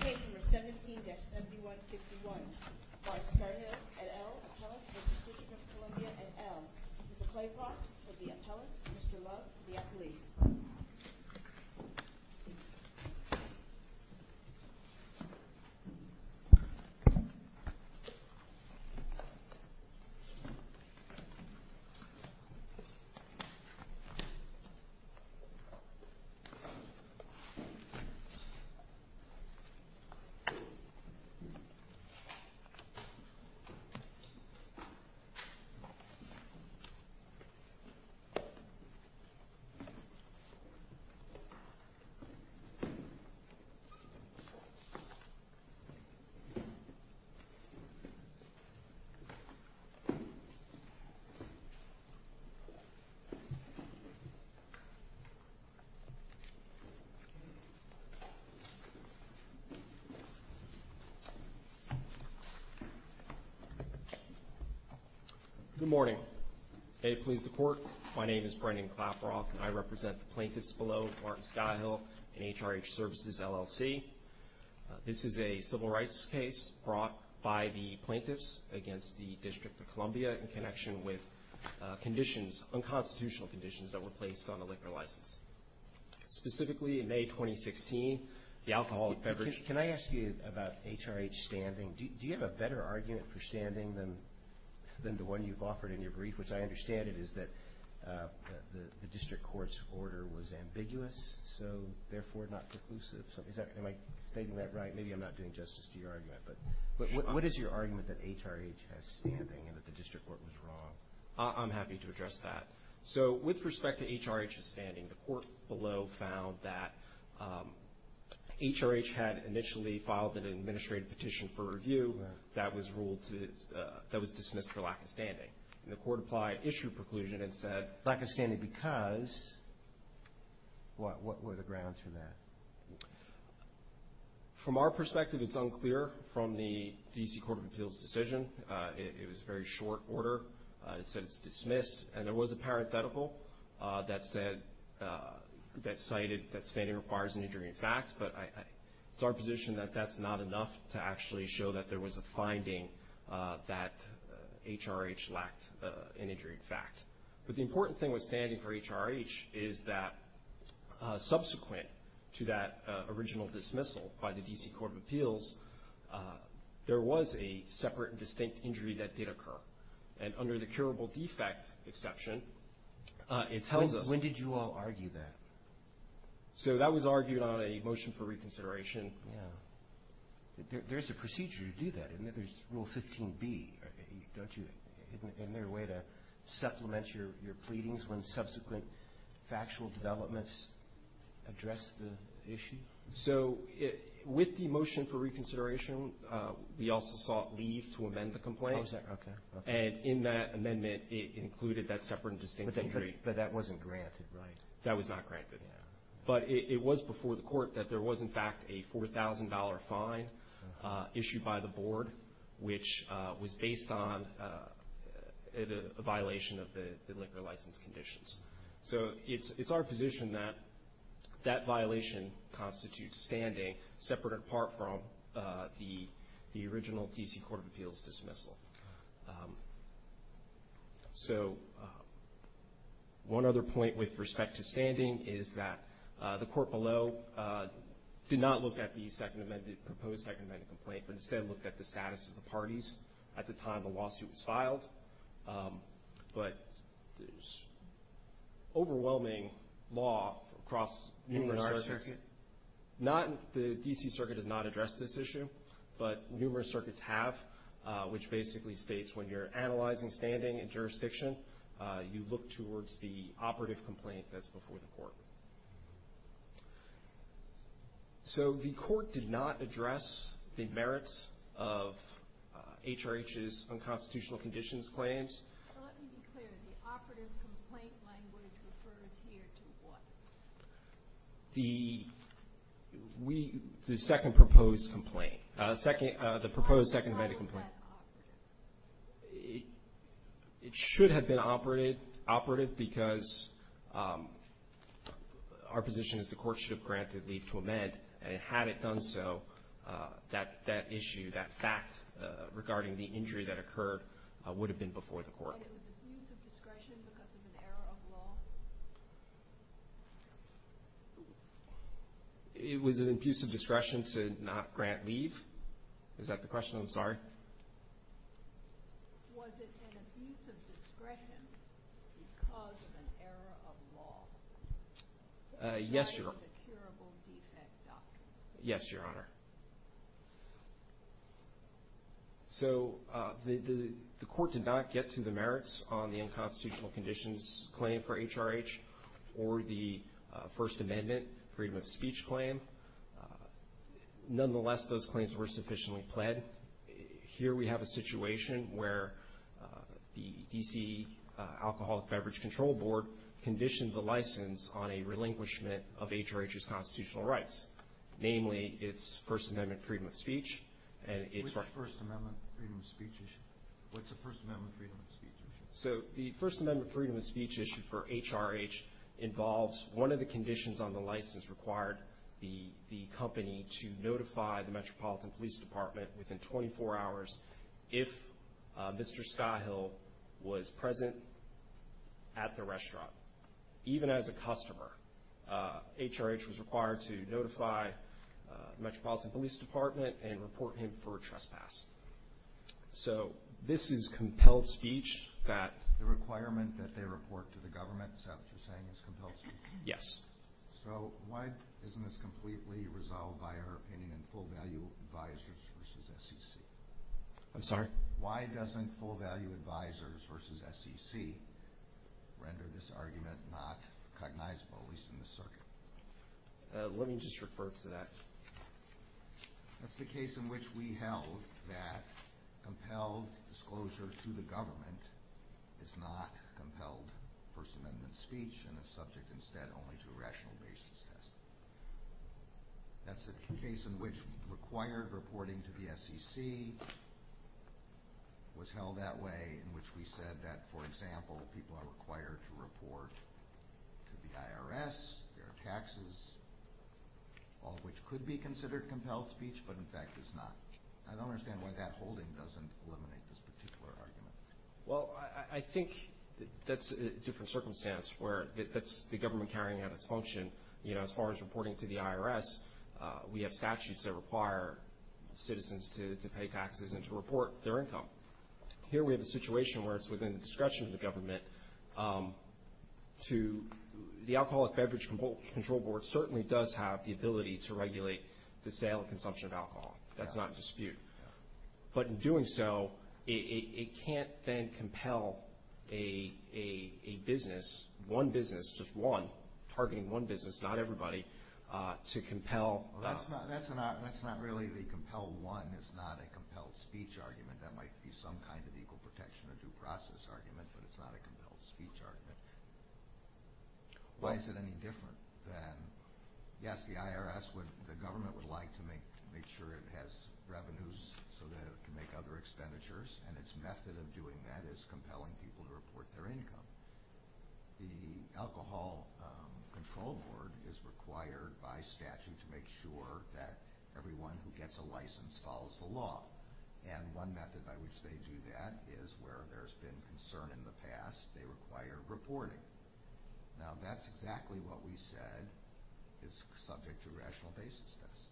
Case number 17-7151. Mark Scahill et al. Appellant v. District of Columbia et al. Mr. Claybrock for the appellants, Mr. Love for the appellees. Mr. Claybrock for the appellants, Mr. Love for the appellants. Good morning. May it please the Court, my name is Brendan Claybrock and I represent the plaintiffs below, Mark Scahill and HRH Services, LLC. This is a civil rights case brought by the plaintiffs against the District of Columbia in connection with unconstitutional conditions that were placed on the liquor license. Specifically, in May 2016, the alcoholic beverage... Can I ask you about HRH's standing? Do you have a better argument for standing than the one you've offered in your brief, which I understand it is that the District Court's order was ambiguous, so therefore not preclusive. Am I stating that right? Maybe I'm not doing justice to your argument. But what is your argument that HRH has standing and that the District Court was wrong? I'm happy to address that. So, with respect to HRH's standing, the Court below found that HRH had initially filed an administrative petition for review that was ruled to... that was dismissed for lack of standing. And the Court applied issue preclusion and said, lack of standing because... What were the grounds for that? From our perspective, it's unclear from the D.C. Court of Appeals' decision. It was a very short order. It said it's dismissed. And there was a parenthetical that said... that cited that standing requires an injury in fact, but it's our position that that's not enough to actually show that there was a finding that HRH lacked an injury in fact. But the important thing with standing for HRH is that subsequent to that original dismissal by the D.C. Court of Appeals, there was a separate and distinct injury that did occur. And under the curable defect exception, it tells us... When did you all argue that? So, that was argued on a motion for reconsideration. Yeah. There's a procedure to do that. And there's Rule 15b, don't you? Isn't there a way to supplement your pleadings when subsequent factual developments address the issue? So, with the motion for reconsideration, we also sought leave to amend the complaint. And in that amendment, it included that separate and distinct injury. But that wasn't granted, right? That was not granted. But it was before the court that there was in fact a $4,000 fine issued by the board, which was based on a violation of the liquor license conditions. So, it's our position that that violation constitutes standing separate and apart from the original D.C. Court of Appeals dismissal. So, one other point with respect to standing is that the court below did not look at the proposed Second Amendment complaint, but instead looked at the status of the parties at the time the lawsuit was filed. But there's overwhelming law across numerous circuits. In our circuit? The D.C. Circuit has not addressed this issue. But numerous circuits have, which basically states when you're analyzing standing and jurisdiction, you look towards the operative complaint that's before the court. So, the court did not address the merits of HRH's unconstitutional conditions claims. So, let me be clear. The operative complaint language refers here to what? The second proposed complaint. The proposed Second Amendment complaint. Why was that operative? It should have been operative because our position is the court should have granted leave to amend, and had it done so, that issue, that fact regarding the injury that occurred, would have been before the court. Was it an abuse of discretion because of an error of law? It was an abuse of discretion to not grant leave? Is that the question? I'm sorry. Was it an abuse of discretion because of an error of law? Yes, Your Honor. That is a curable defect document. Yes, Your Honor. So, the court did not get to the merits on the unconstitutional conditions claim for HRH or the First Amendment freedom of speech claim. Nonetheless, those claims were sufficiently pled. Here we have a situation where the D.C. Alcoholic Beverage Control Board conditioned the license on a relinquishment of HRH's constitutional rights. Namely, its First Amendment freedom of speech. Which First Amendment freedom of speech issue? What's a First Amendment freedom of speech issue? So, the First Amendment freedom of speech issue for HRH involves one of the conditions on the license required the company to notify the Metropolitan Police Department within 24 hours if Mr. Skyhill was present at the restaurant. Even as a customer, HRH was required to notify the Metropolitan Police Department and report him for trespass. So, this is compelled speech that the requirement that they report to the government. So, what you're saying is compelled speech? Yes. So, why isn't this completely resolved by our opinion in full value advisors versus SEC? I'm sorry? Why doesn't full value advisors versus SEC render this argument not cognizable, at least in this circuit? Let me just refer to that. That's the case in which we held that compelled disclosure to the government is not compelled First Amendment speech and is subject instead only to a rational basis test. That's the case in which required reporting to the SEC was held that way in which we said that, for example, people are required to report to the IRS, their taxes, all of which could be considered compelled speech but, in fact, is not. I don't understand why that holding doesn't eliminate this particular argument. Well, I think that's a different circumstance where that's the government carrying out its function. As far as reporting to the IRS, we have statutes that require citizens to pay taxes and to report their income. Here we have a situation where it's within the discretion of the government. The Alcoholic Beverage Control Board certainly does have the ability to regulate the sale and consumption of alcohol. That's not in dispute. But in doing so, it can't then compel a business, one business, just one, targeting one business, not everybody, to compel. That's not really the compelled one. It's not a compelled speech argument. That might be some kind of equal protection or due process argument, but it's not a compelled speech argument. Why is it any different than, yes, the IRS, the government would like to make sure it has revenues so that it can make other expenditures, and its method of doing that is compelling people to report their income. The Alcohol Control Board is required by statute to make sure that everyone who gets a license follows the law. And one method by which they do that is where there's been concern in the past. They require reporting. Now, that's exactly what we said is subject to a rational basis test.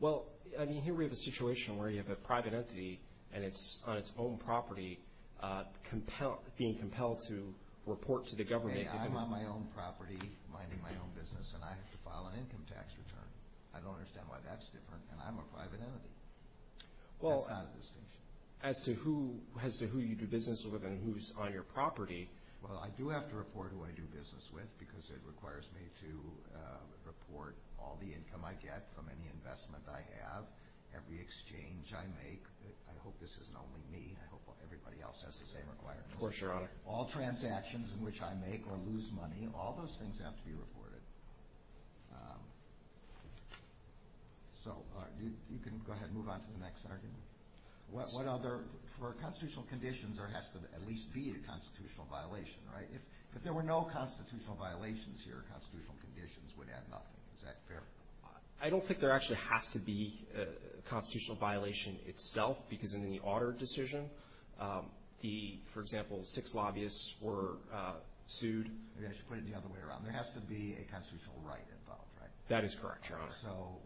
Well, I mean, here we have a situation where you have a private entity, and it's on its own property, being compelled to report to the government. I'm on my own property, minding my own business, and I have to file an income tax return. I don't understand why that's different, and I'm a private entity. That's not a distinction. As to who you do business with and who's on your property? Well, I do have to report who I do business with because it requires me to report all the income I get from any investment I have, every exchange I make. I hope this isn't only me. I hope everybody else has the same requirements. Of course, Your Honor. All transactions in which I make or lose money, all those things have to be reported. So you can go ahead and move on to the next argument. For constitutional conditions, there has to at least be a constitutional violation, right? If there were no constitutional violations here, constitutional conditions would add nothing. Is that fair? I don't think there actually has to be a constitutional violation itself because in the Otter decision, for example, six lobbyists were sued. Maybe I should put it the other way around. There has to be a constitutional right involved, right? That is correct, Your Honor. So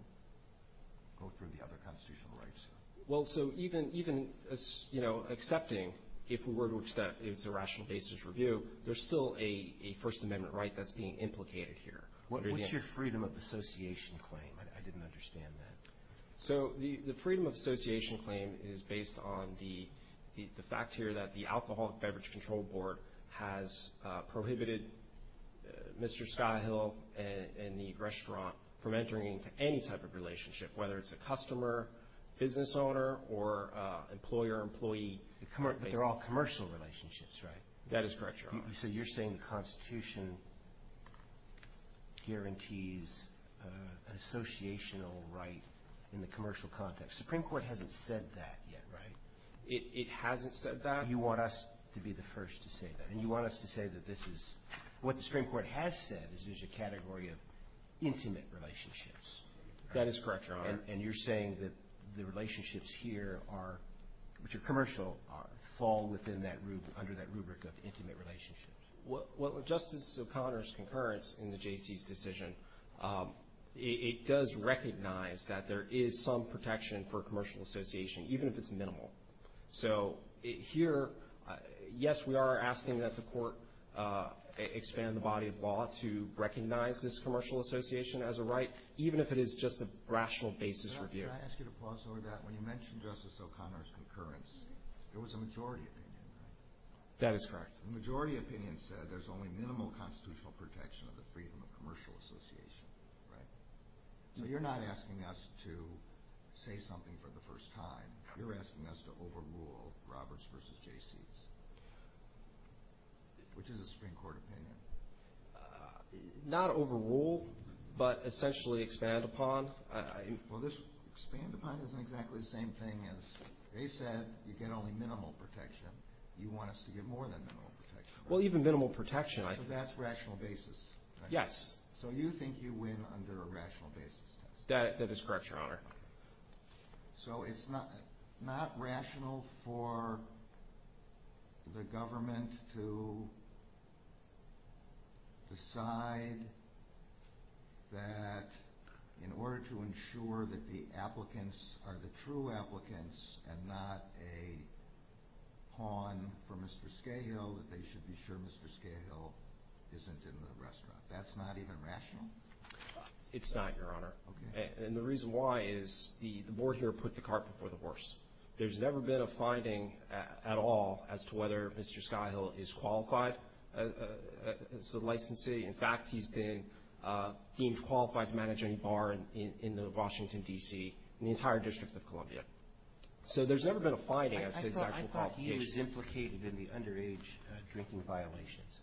go through the other constitutional rights. Well, so even, you know, accepting, if we were to accept it's a rational basis review, there's still a First Amendment right that's being implicated here. What's your freedom of association claim? I didn't understand that. So the freedom of association claim is based on the fact here that the Alcoholic Beverage Control Board has prohibited Mr. from entering into any type of relationship, whether it's a customer, business owner, or employer, employee. But they're all commercial relationships, right? That is correct, Your Honor. So you're saying the Constitution guarantees an associational right in the commercial context. Supreme Court hasn't said that yet, right? It hasn't said that. You want us to be the first to say that. And you want us to say that this is what the Supreme Court has said is a category of intimate relationships. That is correct, Your Honor. And you're saying that the relationships here are, which are commercial, fall under that rubric of intimate relationships. Well, Justice O'Connor's concurrence in the J.C.'s decision, it does recognize that there is some protection for commercial association, even if it's minimal. So here, yes, we are asking that the Court expand the body of law to recognize this commercial association as a right, even if it is just a rational basis review. Can I ask you to pause over that? When you mentioned Justice O'Connor's concurrence, it was a majority opinion, right? That is correct. The majority opinion said there's only minimal constitutional protection of the freedom of commercial association, right? So you're not asking us to say something for the first time. You're asking us to overrule Roberts v. J.C.'s, which is a Supreme Court opinion. Not overrule, but essentially expand upon. Well, this expand upon isn't exactly the same thing as they said you get only minimal protection. You want us to get more than minimal protection. Well, even minimal protection, I think. So that's rational basis, right? Yes. So you think you win under a rational basis test? That is correct, Your Honor. So it's not rational for the government to decide that in order to ensure that the applicants are the true applicants and not a pawn for Mr. Scahill, that they should be sure Mr. Scahill isn't in the restaurant. That's not even rational? It's not, Your Honor. Okay. And the reason why is the board here put the cart before the horse. There's never been a finding at all as to whether Mr. Scahill is qualified as a licensee. In fact, he's been deemed qualified to manage any bar in Washington, D.C., in the entire District of Columbia. So there's never been a finding as to his actual qualifications. I thought he was implicated in the underage drinking violations.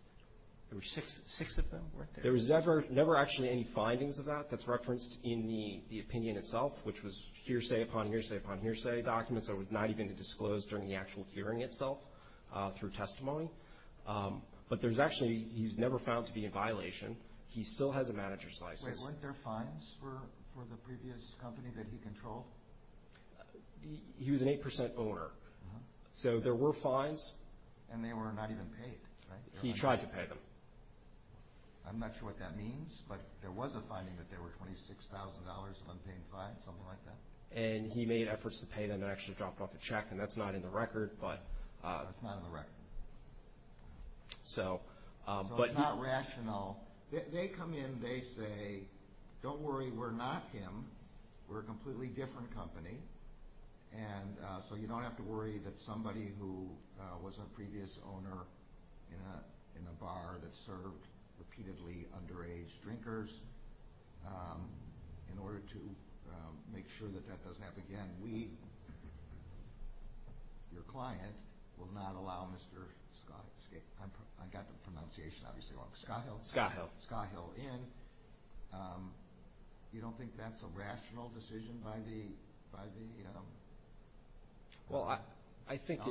There were six of them, weren't there? There was never actually any findings of that that's referenced in the opinion itself, which was hearsay upon hearsay upon hearsay documents that were not even disclosed during the actual hearing itself through testimony. But there's actually, he's never found to be in violation. He still has a manager's license. Wait, weren't there fines for the previous company that he controlled? He was an 8% owner. So there were fines. And they were not even paid, right? He tried to pay them. I'm not sure what that means, but there was a finding that there were $26,000 of unpaid fines, something like that. And he made efforts to pay them and actually dropped off a check, and that's not in the record. It's not in the record. So it's not rational. They come in, they say, don't worry, we're not him. We're a completely different company. And so you don't have to worry that somebody who was a previous owner in a bar that served repeatedly underage drinkers, in order to make sure that that doesn't happen again, we, your client, will not allow Mr. Skahil in. You don't think that's a rational decision by the alcohol board? Well, I think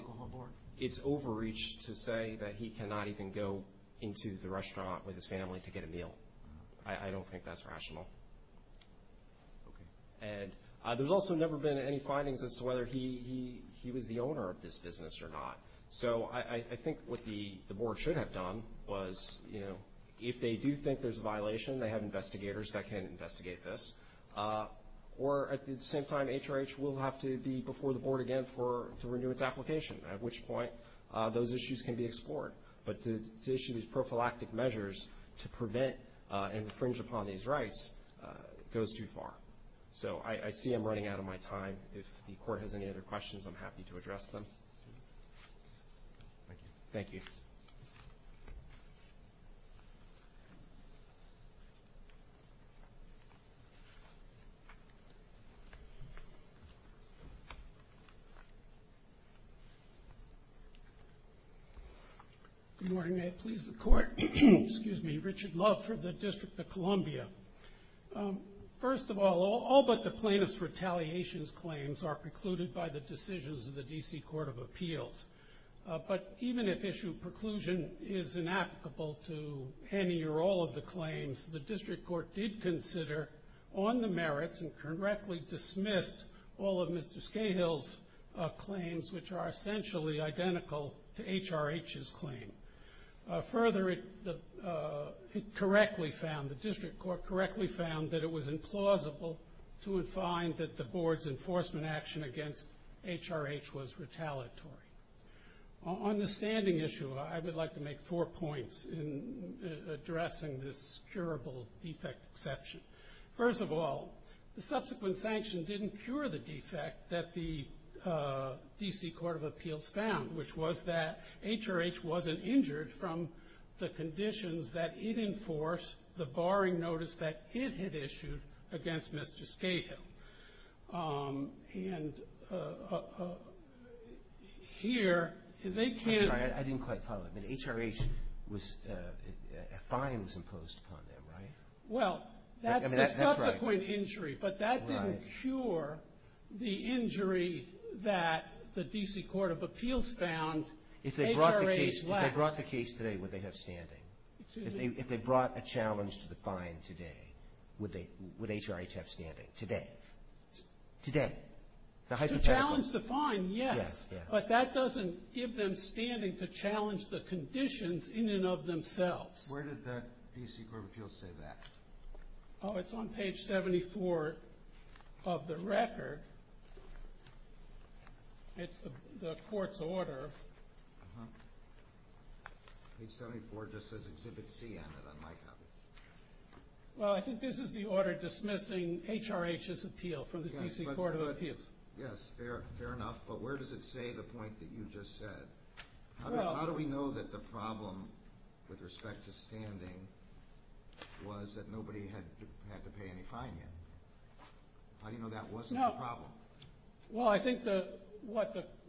it's overreach to say that he cannot even go into the restaurant with his family to get a meal. I don't think that's rational. And there's also never been any findings as to whether he was the owner of this business or not. So I think what the board should have done was, you know, if they do think there's a violation, they have investigators that can investigate this. Or at the same time, HRH will have to be before the board again to renew its application, at which point those issues can be explored. But to issue these prophylactic measures to prevent and infringe upon these rights goes too far. So I see I'm running out of my time. If the court has any other questions, I'm happy to address them. Thank you. Good morning. May it please the Court. Excuse me. Richard Love for the District of Columbia. First of all, all but the plaintiff's retaliations claims are precluded by the decisions of the D.C. Court of Appeals. But even if issue preclusion is inapplicable to any or all of the claims, the district court did consider on the merits and correctly dismissed all of Mr. Scahill's claims, which are essentially identical to HRH's claim. Further, it correctly found, the district court correctly found that it was implausible to find that the board's enforcement action against HRH was retaliatory. On the standing issue, I would like to make four points in addressing this curable defect exception. First of all, the subsequent sanction didn't cure the defect that the D.C. Court of Appeals found, which was that HRH wasn't injured from the conditions that it enforced, the barring notice that it had issued against Mr. Scahill. And here they can't. I'm sorry, I didn't quite follow. HRH was, a fine was imposed upon them, right? Well, that's the subsequent injury. But that didn't cure the injury that the D.C. Court of Appeals found HRH lacked. If they brought the case today, would they have standing? If they brought a challenge to the fine today, would HRH have standing today? Today? To challenge the fine, yes. But that doesn't give them standing to challenge the conditions in and of themselves. Where did the D.C. Court of Appeals say that? Oh, it's on page 74 of the record. It's the court's order. Page 74 just says Exhibit C on it. Well, I think this is the order dismissing HRH's appeal from the D.C. Court of Appeals. Yes, fair enough. But where does it say the point that you just said? How do we know that the problem with respect to standing was that nobody had to pay any fine yet? How do you know that wasn't the problem? Well, I think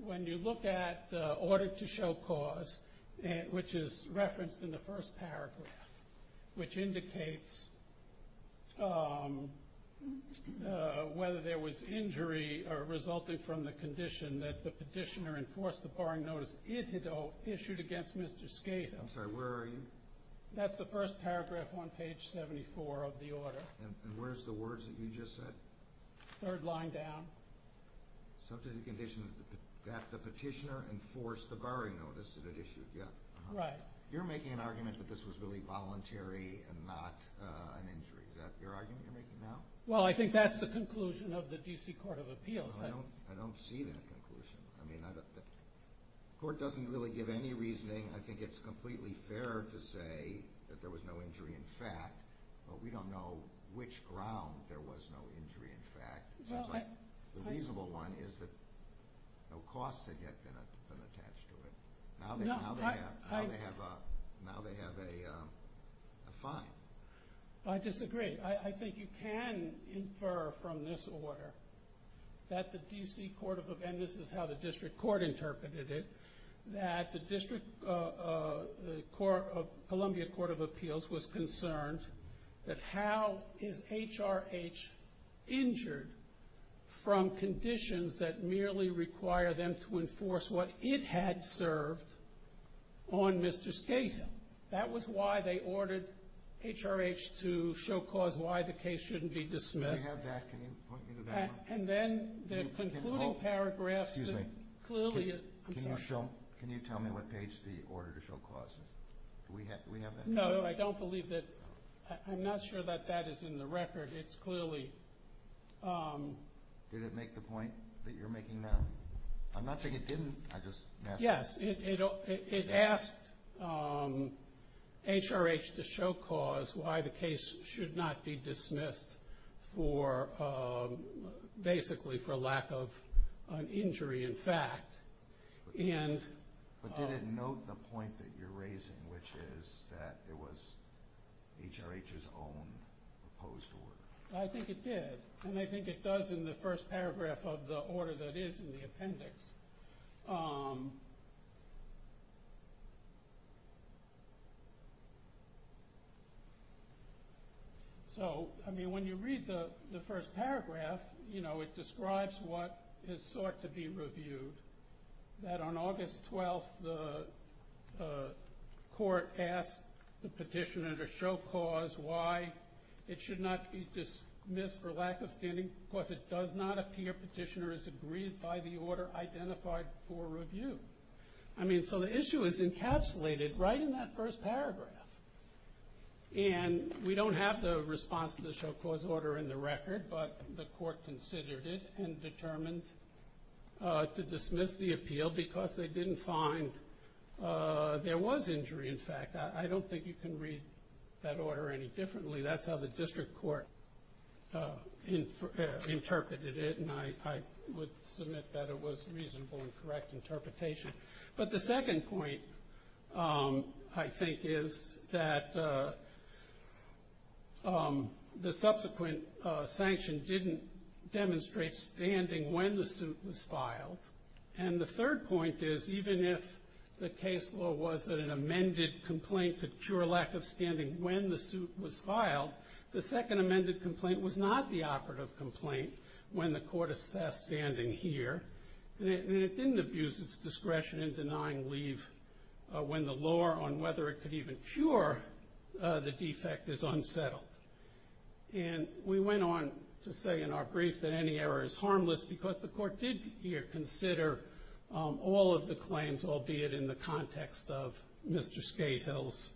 when you look at the order to show cause, which is referenced in the first paragraph, which indicates whether there was injury resulting from the condition that the petitioner enforce the borrowing notice it had issued against Mr. Skate. I'm sorry, where are you? That's the first paragraph on page 74 of the order. And where's the words that you just said? Third line down. Subject to the condition that the petitioner enforce the borrowing notice that it issued. Right. You're making an argument that this was really voluntary and not an injury. Is that your argument you're making now? Well, I think that's the conclusion of the D.C. Court of Appeals. I don't see that conclusion. I mean, the court doesn't really give any reasoning. I think it's completely fair to say that there was no injury in fact, but we don't know which ground there was no injury in fact. The reasonable one is that no costs had yet been attached to it. Now they have a fine. I disagree. I think you can infer from this order that the D.C. Court of Appeals, and this is how the district court interpreted it, that the Columbia Court of Appeals was concerned that how is HRH injured from conditions that merely require them to enforce what it had served on Mr. Skate? That was why they ordered HRH to show cause why the case shouldn't be dismissed. Do we have that? Can you point me to that one? And then the concluding paragraphs clearly. Can you tell me what page the order to show cause is? Do we have that? No, I don't believe that. I'm not sure that that is in the record. It's clearly. Did it make the point that you're making now? I'm not saying it didn't. Yes, it asked HRH to show cause why the case should not be dismissed basically for lack of an injury, in fact. But did it note the point that you're raising, which is that it was HRH's own proposed order? I think it did. And I think it does in the first paragraph of the order that is in the appendix. So, I mean, when you read the first paragraph, you know, it describes what is sought to be reviewed, that on August 12th the court asked the petitioner to show cause why it should not be dismissed for lack of standing. Of course, it does not appear petitioner has agreed by the order identified for review. I mean, so the issue is encapsulated right in that first paragraph. And we don't have the response to the show cause order in the record, but the court considered it and determined to dismiss the appeal because they didn't find there was injury, in fact. I don't think you can read that order any differently. That's how the district court interpreted it, and I would submit that it was a reasonable and correct interpretation. But the second point, I think, is that the subsequent sanction didn't demonstrate standing when the suit was filed. And the third point is, even if the case law was that an amended complaint could cure lack of standing when the suit was filed, the second amended complaint was not the operative complaint when the court assessed standing here. And it didn't abuse its discretion in denying leave when the law on whether it could even cure the defect is unsettled. And we went on to say in our brief that any error is harmless because the court did here consider all of the claims, albeit in the context of Mr. Skatehill's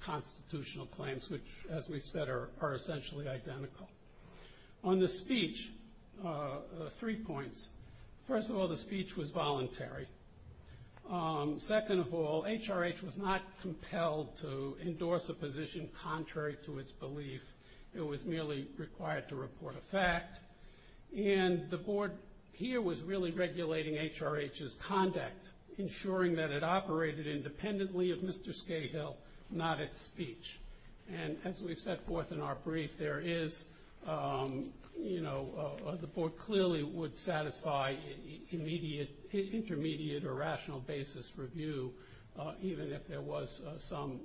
constitutional claims, which, as we've said, are essentially identical. On the speech, three points. First of all, the speech was voluntary. Second of all, HRH was not compelled to endorse a position contrary to its belief. It was merely required to report a fact. And the board here was really regulating HRH's conduct, ensuring that it operated independently of Mr. Skatehill, not its speech. And as we've set forth in our brief, the board clearly would satisfy intermediate or rational basis review, even if there was some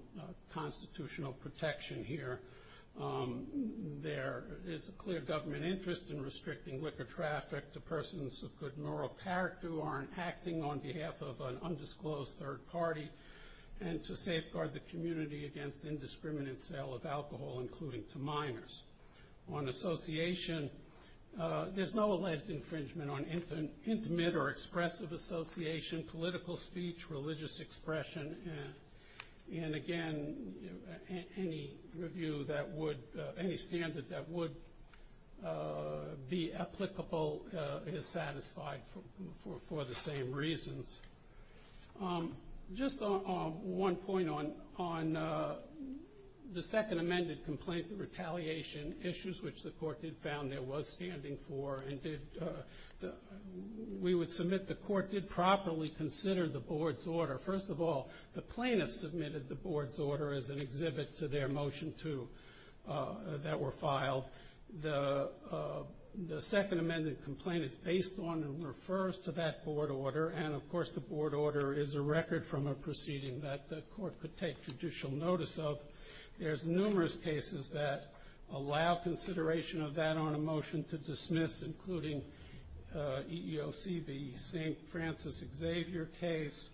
constitutional protection here. There is a clear government interest in restricting liquor traffic to persons of good moral character who aren't acting on behalf of an undisclosed third party and to safeguard the community against indiscriminate sale of alcohol, including to minors. On association, there's no alleged infringement on intimate or expressive association, political speech, religious expression. And, again, any review that would, any standard that would be applicable is satisfied for the same reasons. Just one point on the second amended complaint, the retaliation issues, which the court did found there was standing for. We would submit the court did properly consider the board's order. First of all, the plaintiff submitted the board's order as an exhibit to their motion two that were filed. The second amended complaint is based on and refers to that board order, and, of course, the board order is a record from a proceeding that the court could take judicial notice of. There's numerous cases that allow consideration of that on a motion to dismiss, including EEOC v. St. Francis Xavier case,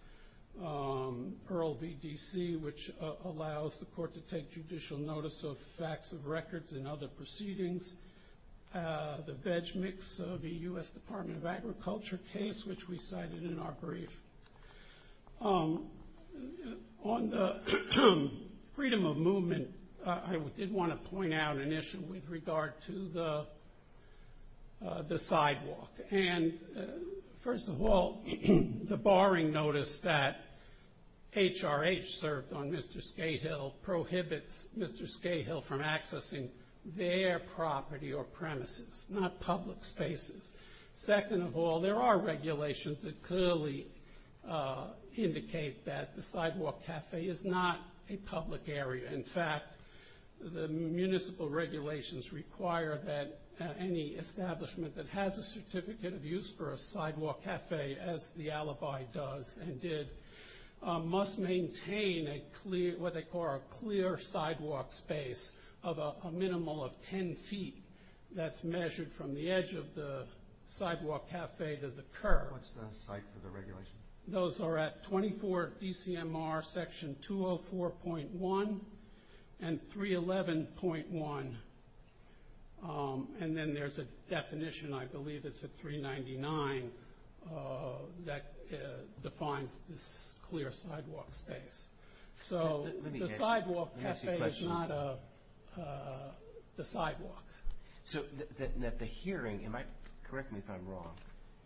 EARL v. DC, which allows the court to take judicial notice of facts of records and other proceedings, the veg mix v. U.S. Department of Agriculture case, which we cited in our brief. On the freedom of movement, I did want to point out an issue with regard to the sidewalk. And, first of all, the barring notice that HRH served on Mr. Skate Hill prohibits Mr. Skate Hill from accessing their property or premises, not public spaces. Second of all, there are regulations that clearly indicate that the sidewalk cafe is not a public area. In fact, the municipal regulations require that any establishment that has a certificate of use for a sidewalk cafe, as the alibi does and did, must maintain what they call a clear sidewalk space of a minimal of 10 feet that's measured from the edge of the sidewalk cafe to the curb. What's the site for the regulation? Those are at 24 DCMR section 204.1 and 311.1. And then there's a definition, I believe it's at 399, that defines this clear sidewalk space. So the sidewalk cafe is not the sidewalk. So at the hearing, correct me if I'm wrong,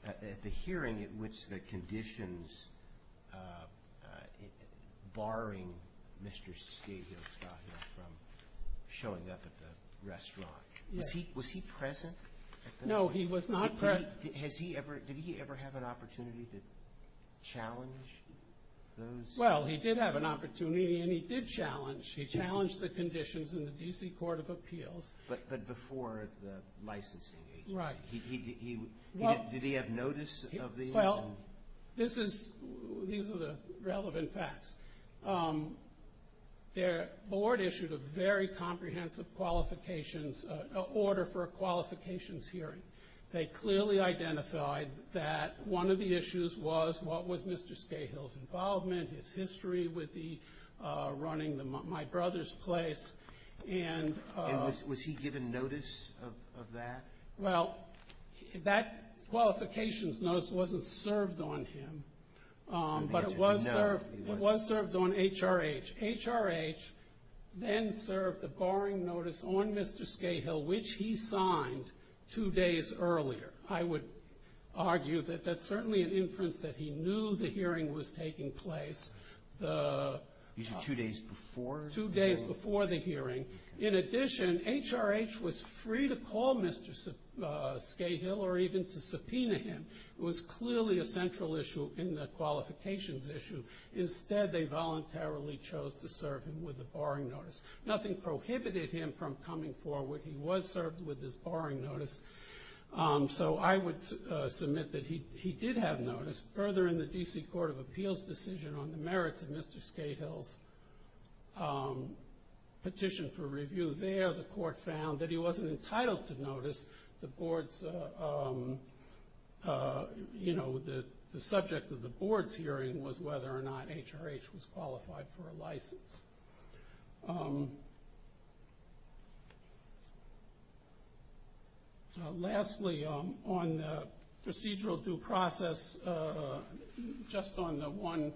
at the hearing at which the conditions barring Mr. Skate Hill from showing up at the restaurant, was he present? No, he was not present. Did he ever have an opportunity to challenge those? Well, he did have an opportunity and he did challenge. He challenged the conditions in the DC Court of Appeals. But before the licensing agency. Right. Did he have notice of these? Well, these are the relevant facts. The board issued a very comprehensive order for a qualifications hearing. They clearly identified that one of the issues was what was Mr. Skate Hill's involvement, his history with running the My Brother's Place. And was he given notice of that? Well, that qualifications notice wasn't served on him. But it was served on HRH. HRH then served the barring notice on Mr. Skate Hill, which he signed two days earlier. I would argue that that's certainly an inference that he knew the hearing was taking place. These are two days before? Two days before the hearing. In addition, HRH was free to call Mr. Skate Hill or even to subpoena him. It was clearly a central issue in the qualifications issue. Instead, they voluntarily chose to serve him with the barring notice. Nothing prohibited him from coming forward. He was served with his barring notice. So I would submit that he did have notice. Further, in the D.C. Court of Appeals decision on the merits of Mr. Skate Hill's petition for review, there the court found that he wasn't entitled to notice the board's, you know, the subject of the board's hearing was whether or not HRH was qualified for a license. Lastly, on the procedural due process, just on the one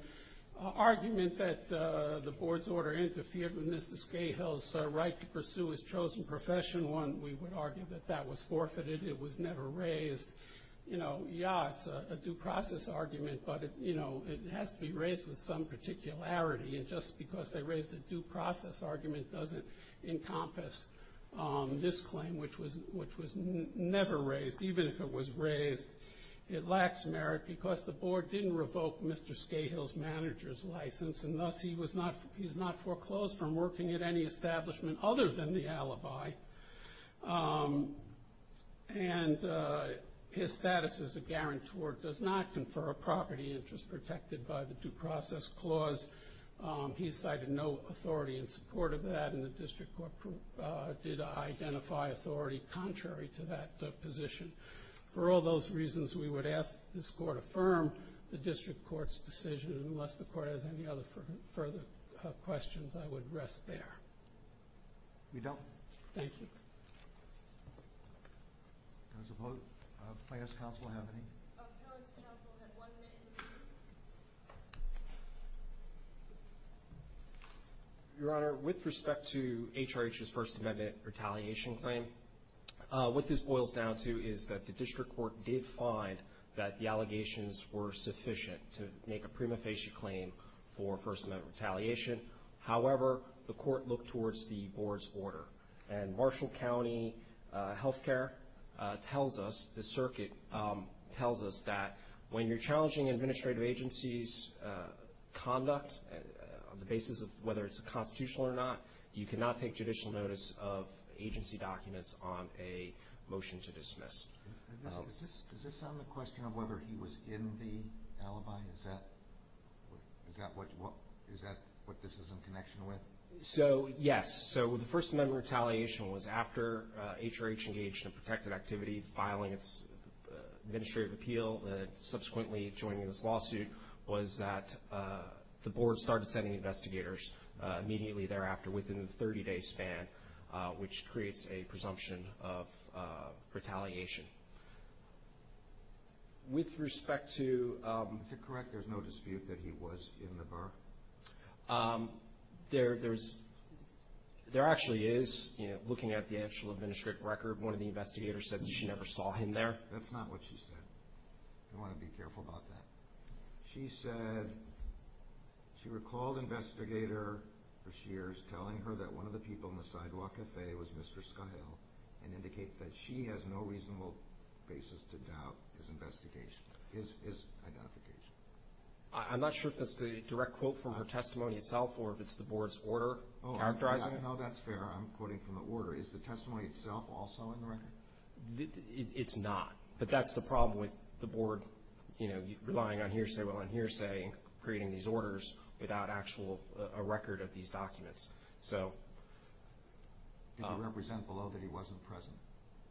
argument that the board's order interfered with Mr. Skate Hill's right to pursue his chosen profession, one we would argue that that was forfeited. It was never raised. You know, yeah, it's a due process argument, but, you know, it has to be raised with some particularity. And just because they raised a due process argument doesn't encompass this claim, which was never raised. Even if it was raised, it lacks merit because the board didn't revoke Mr. Skate Hill's manager's license, and thus he's not foreclosed from working at any establishment other than the alibi. And his status as a guarantor does not confer a property interest protected by the due process clause. He cited no authority in support of that, and the district court did identify authority contrary to that position. For all those reasons, we would ask that this court affirm the district court's decision. Unless the court has any other further questions, I would rest there. We don't? Thank you. There's a vote. Playhouse Council, have any? Playhouse Council had one minute to speak. Your Honor, with respect to HRH's First Amendment retaliation claim, what this boils down to is that the district court did find that the allegations were sufficient to make a prima facie claim for First Amendment retaliation. However, the court looked towards the board's order. And Marshall County Health Care tells us, the circuit tells us, that when you're challenging administrative agency's conduct on the basis of whether it's constitutional or not, you cannot take judicial notice of agency documents on a motion to dismiss. Does this sound like a question of whether he was in the alibi? Is that what this is in connection with? So, yes. So the First Amendment retaliation was after HRH engaged in protected activity, filing its administrative appeal, and subsequently joining this lawsuit, was that the board started sending investigators immediately thereafter within the 30-day span, which creates a presumption of retaliation. With respect to... Is it correct there's no dispute that he was in the bar? There actually is. Looking at the actual administrative record, one of the investigators said that she never saw him there. That's not what she said. You want to be careful about that. She said she recalled Investigator Breshears telling her that one of the people in the sidewalk cafe was Mr. Schuyle and indicated that she has no reasonable basis to doubt his investigation, his identification. I'm not sure if that's the direct quote from her testimony itself or if it's the board's order characterizing it. No, that's fair. I'm quoting from the order. Is the testimony itself also in the record? It's not. But that's the problem with the board, you know, relying on hearsay while on hearsay, creating these orders without actual record of these documents. Did you represent below that he wasn't present?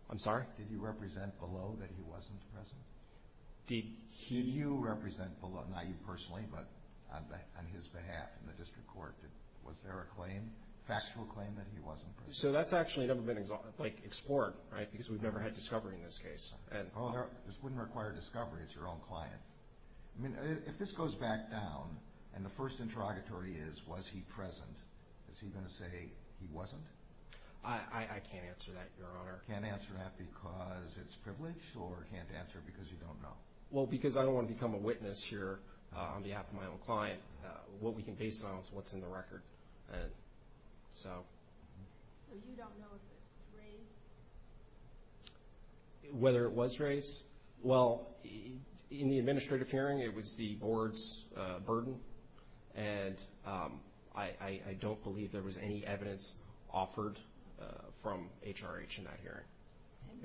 I'm sorry? Did you represent below that he wasn't present? Did he... Did you represent below, not you personally, but on his behalf in the district court, was there a claim, factual claim that he wasn't present? So that's actually never been explored, right, because we've never had discovery in this case. Oh, this wouldn't require discovery. It's your own client. I mean, if this goes back down and the first interrogatory is, was he present, is he going to say he wasn't? I can't answer that, Your Honor. Can't answer that because it's privileged or can't answer because you don't know? Well, because I don't want to become a witness here on behalf of my own client. What we can base it on is what's in the record. So... So you don't know if it's raised? Whether it was raised? Well, in the administrative hearing, it was the board's burden, and I don't believe there was any evidence offered from HRH in that hearing.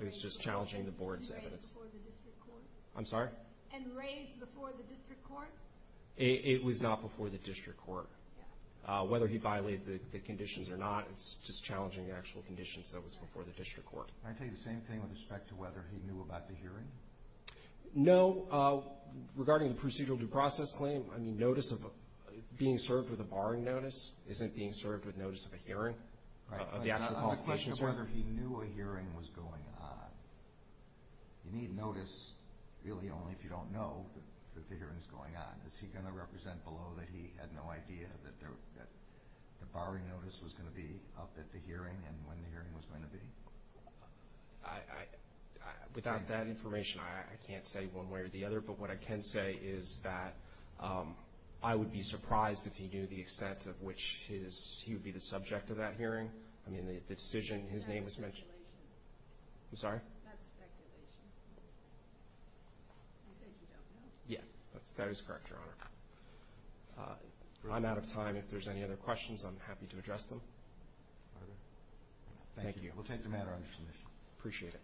It was just challenging the board's evidence. And raised before the district court? I'm sorry? And raised before the district court? It was not before the district court. Whether he violated the conditions or not, it's just challenging the actual conditions that was before the district court. Can I tell you the same thing with respect to whether he knew about the hearing? No. Regarding the procedural due process claim, I mean, notice of being served with a barring notice isn't being served with notice of a hearing. On the question of whether he knew a hearing was going on, you need notice really only if you don't know that the hearing is going on. Is he going to represent below that he had no idea that the barring notice was going to be up at the hearing and when the hearing was going to be? Without that information, I can't say one way or the other. But what I can say is that I would be surprised if he knew the extent of which he would be the subject of that hearing. I mean, the decision, his name was mentioned. That's speculation. I'm sorry? That's speculation. You said you don't know. Yeah, that is correct, Your Honor. I'm out of time. If there's any other questions, I'm happy to address them. Thank you. We'll take the matter under submission. Appreciate it.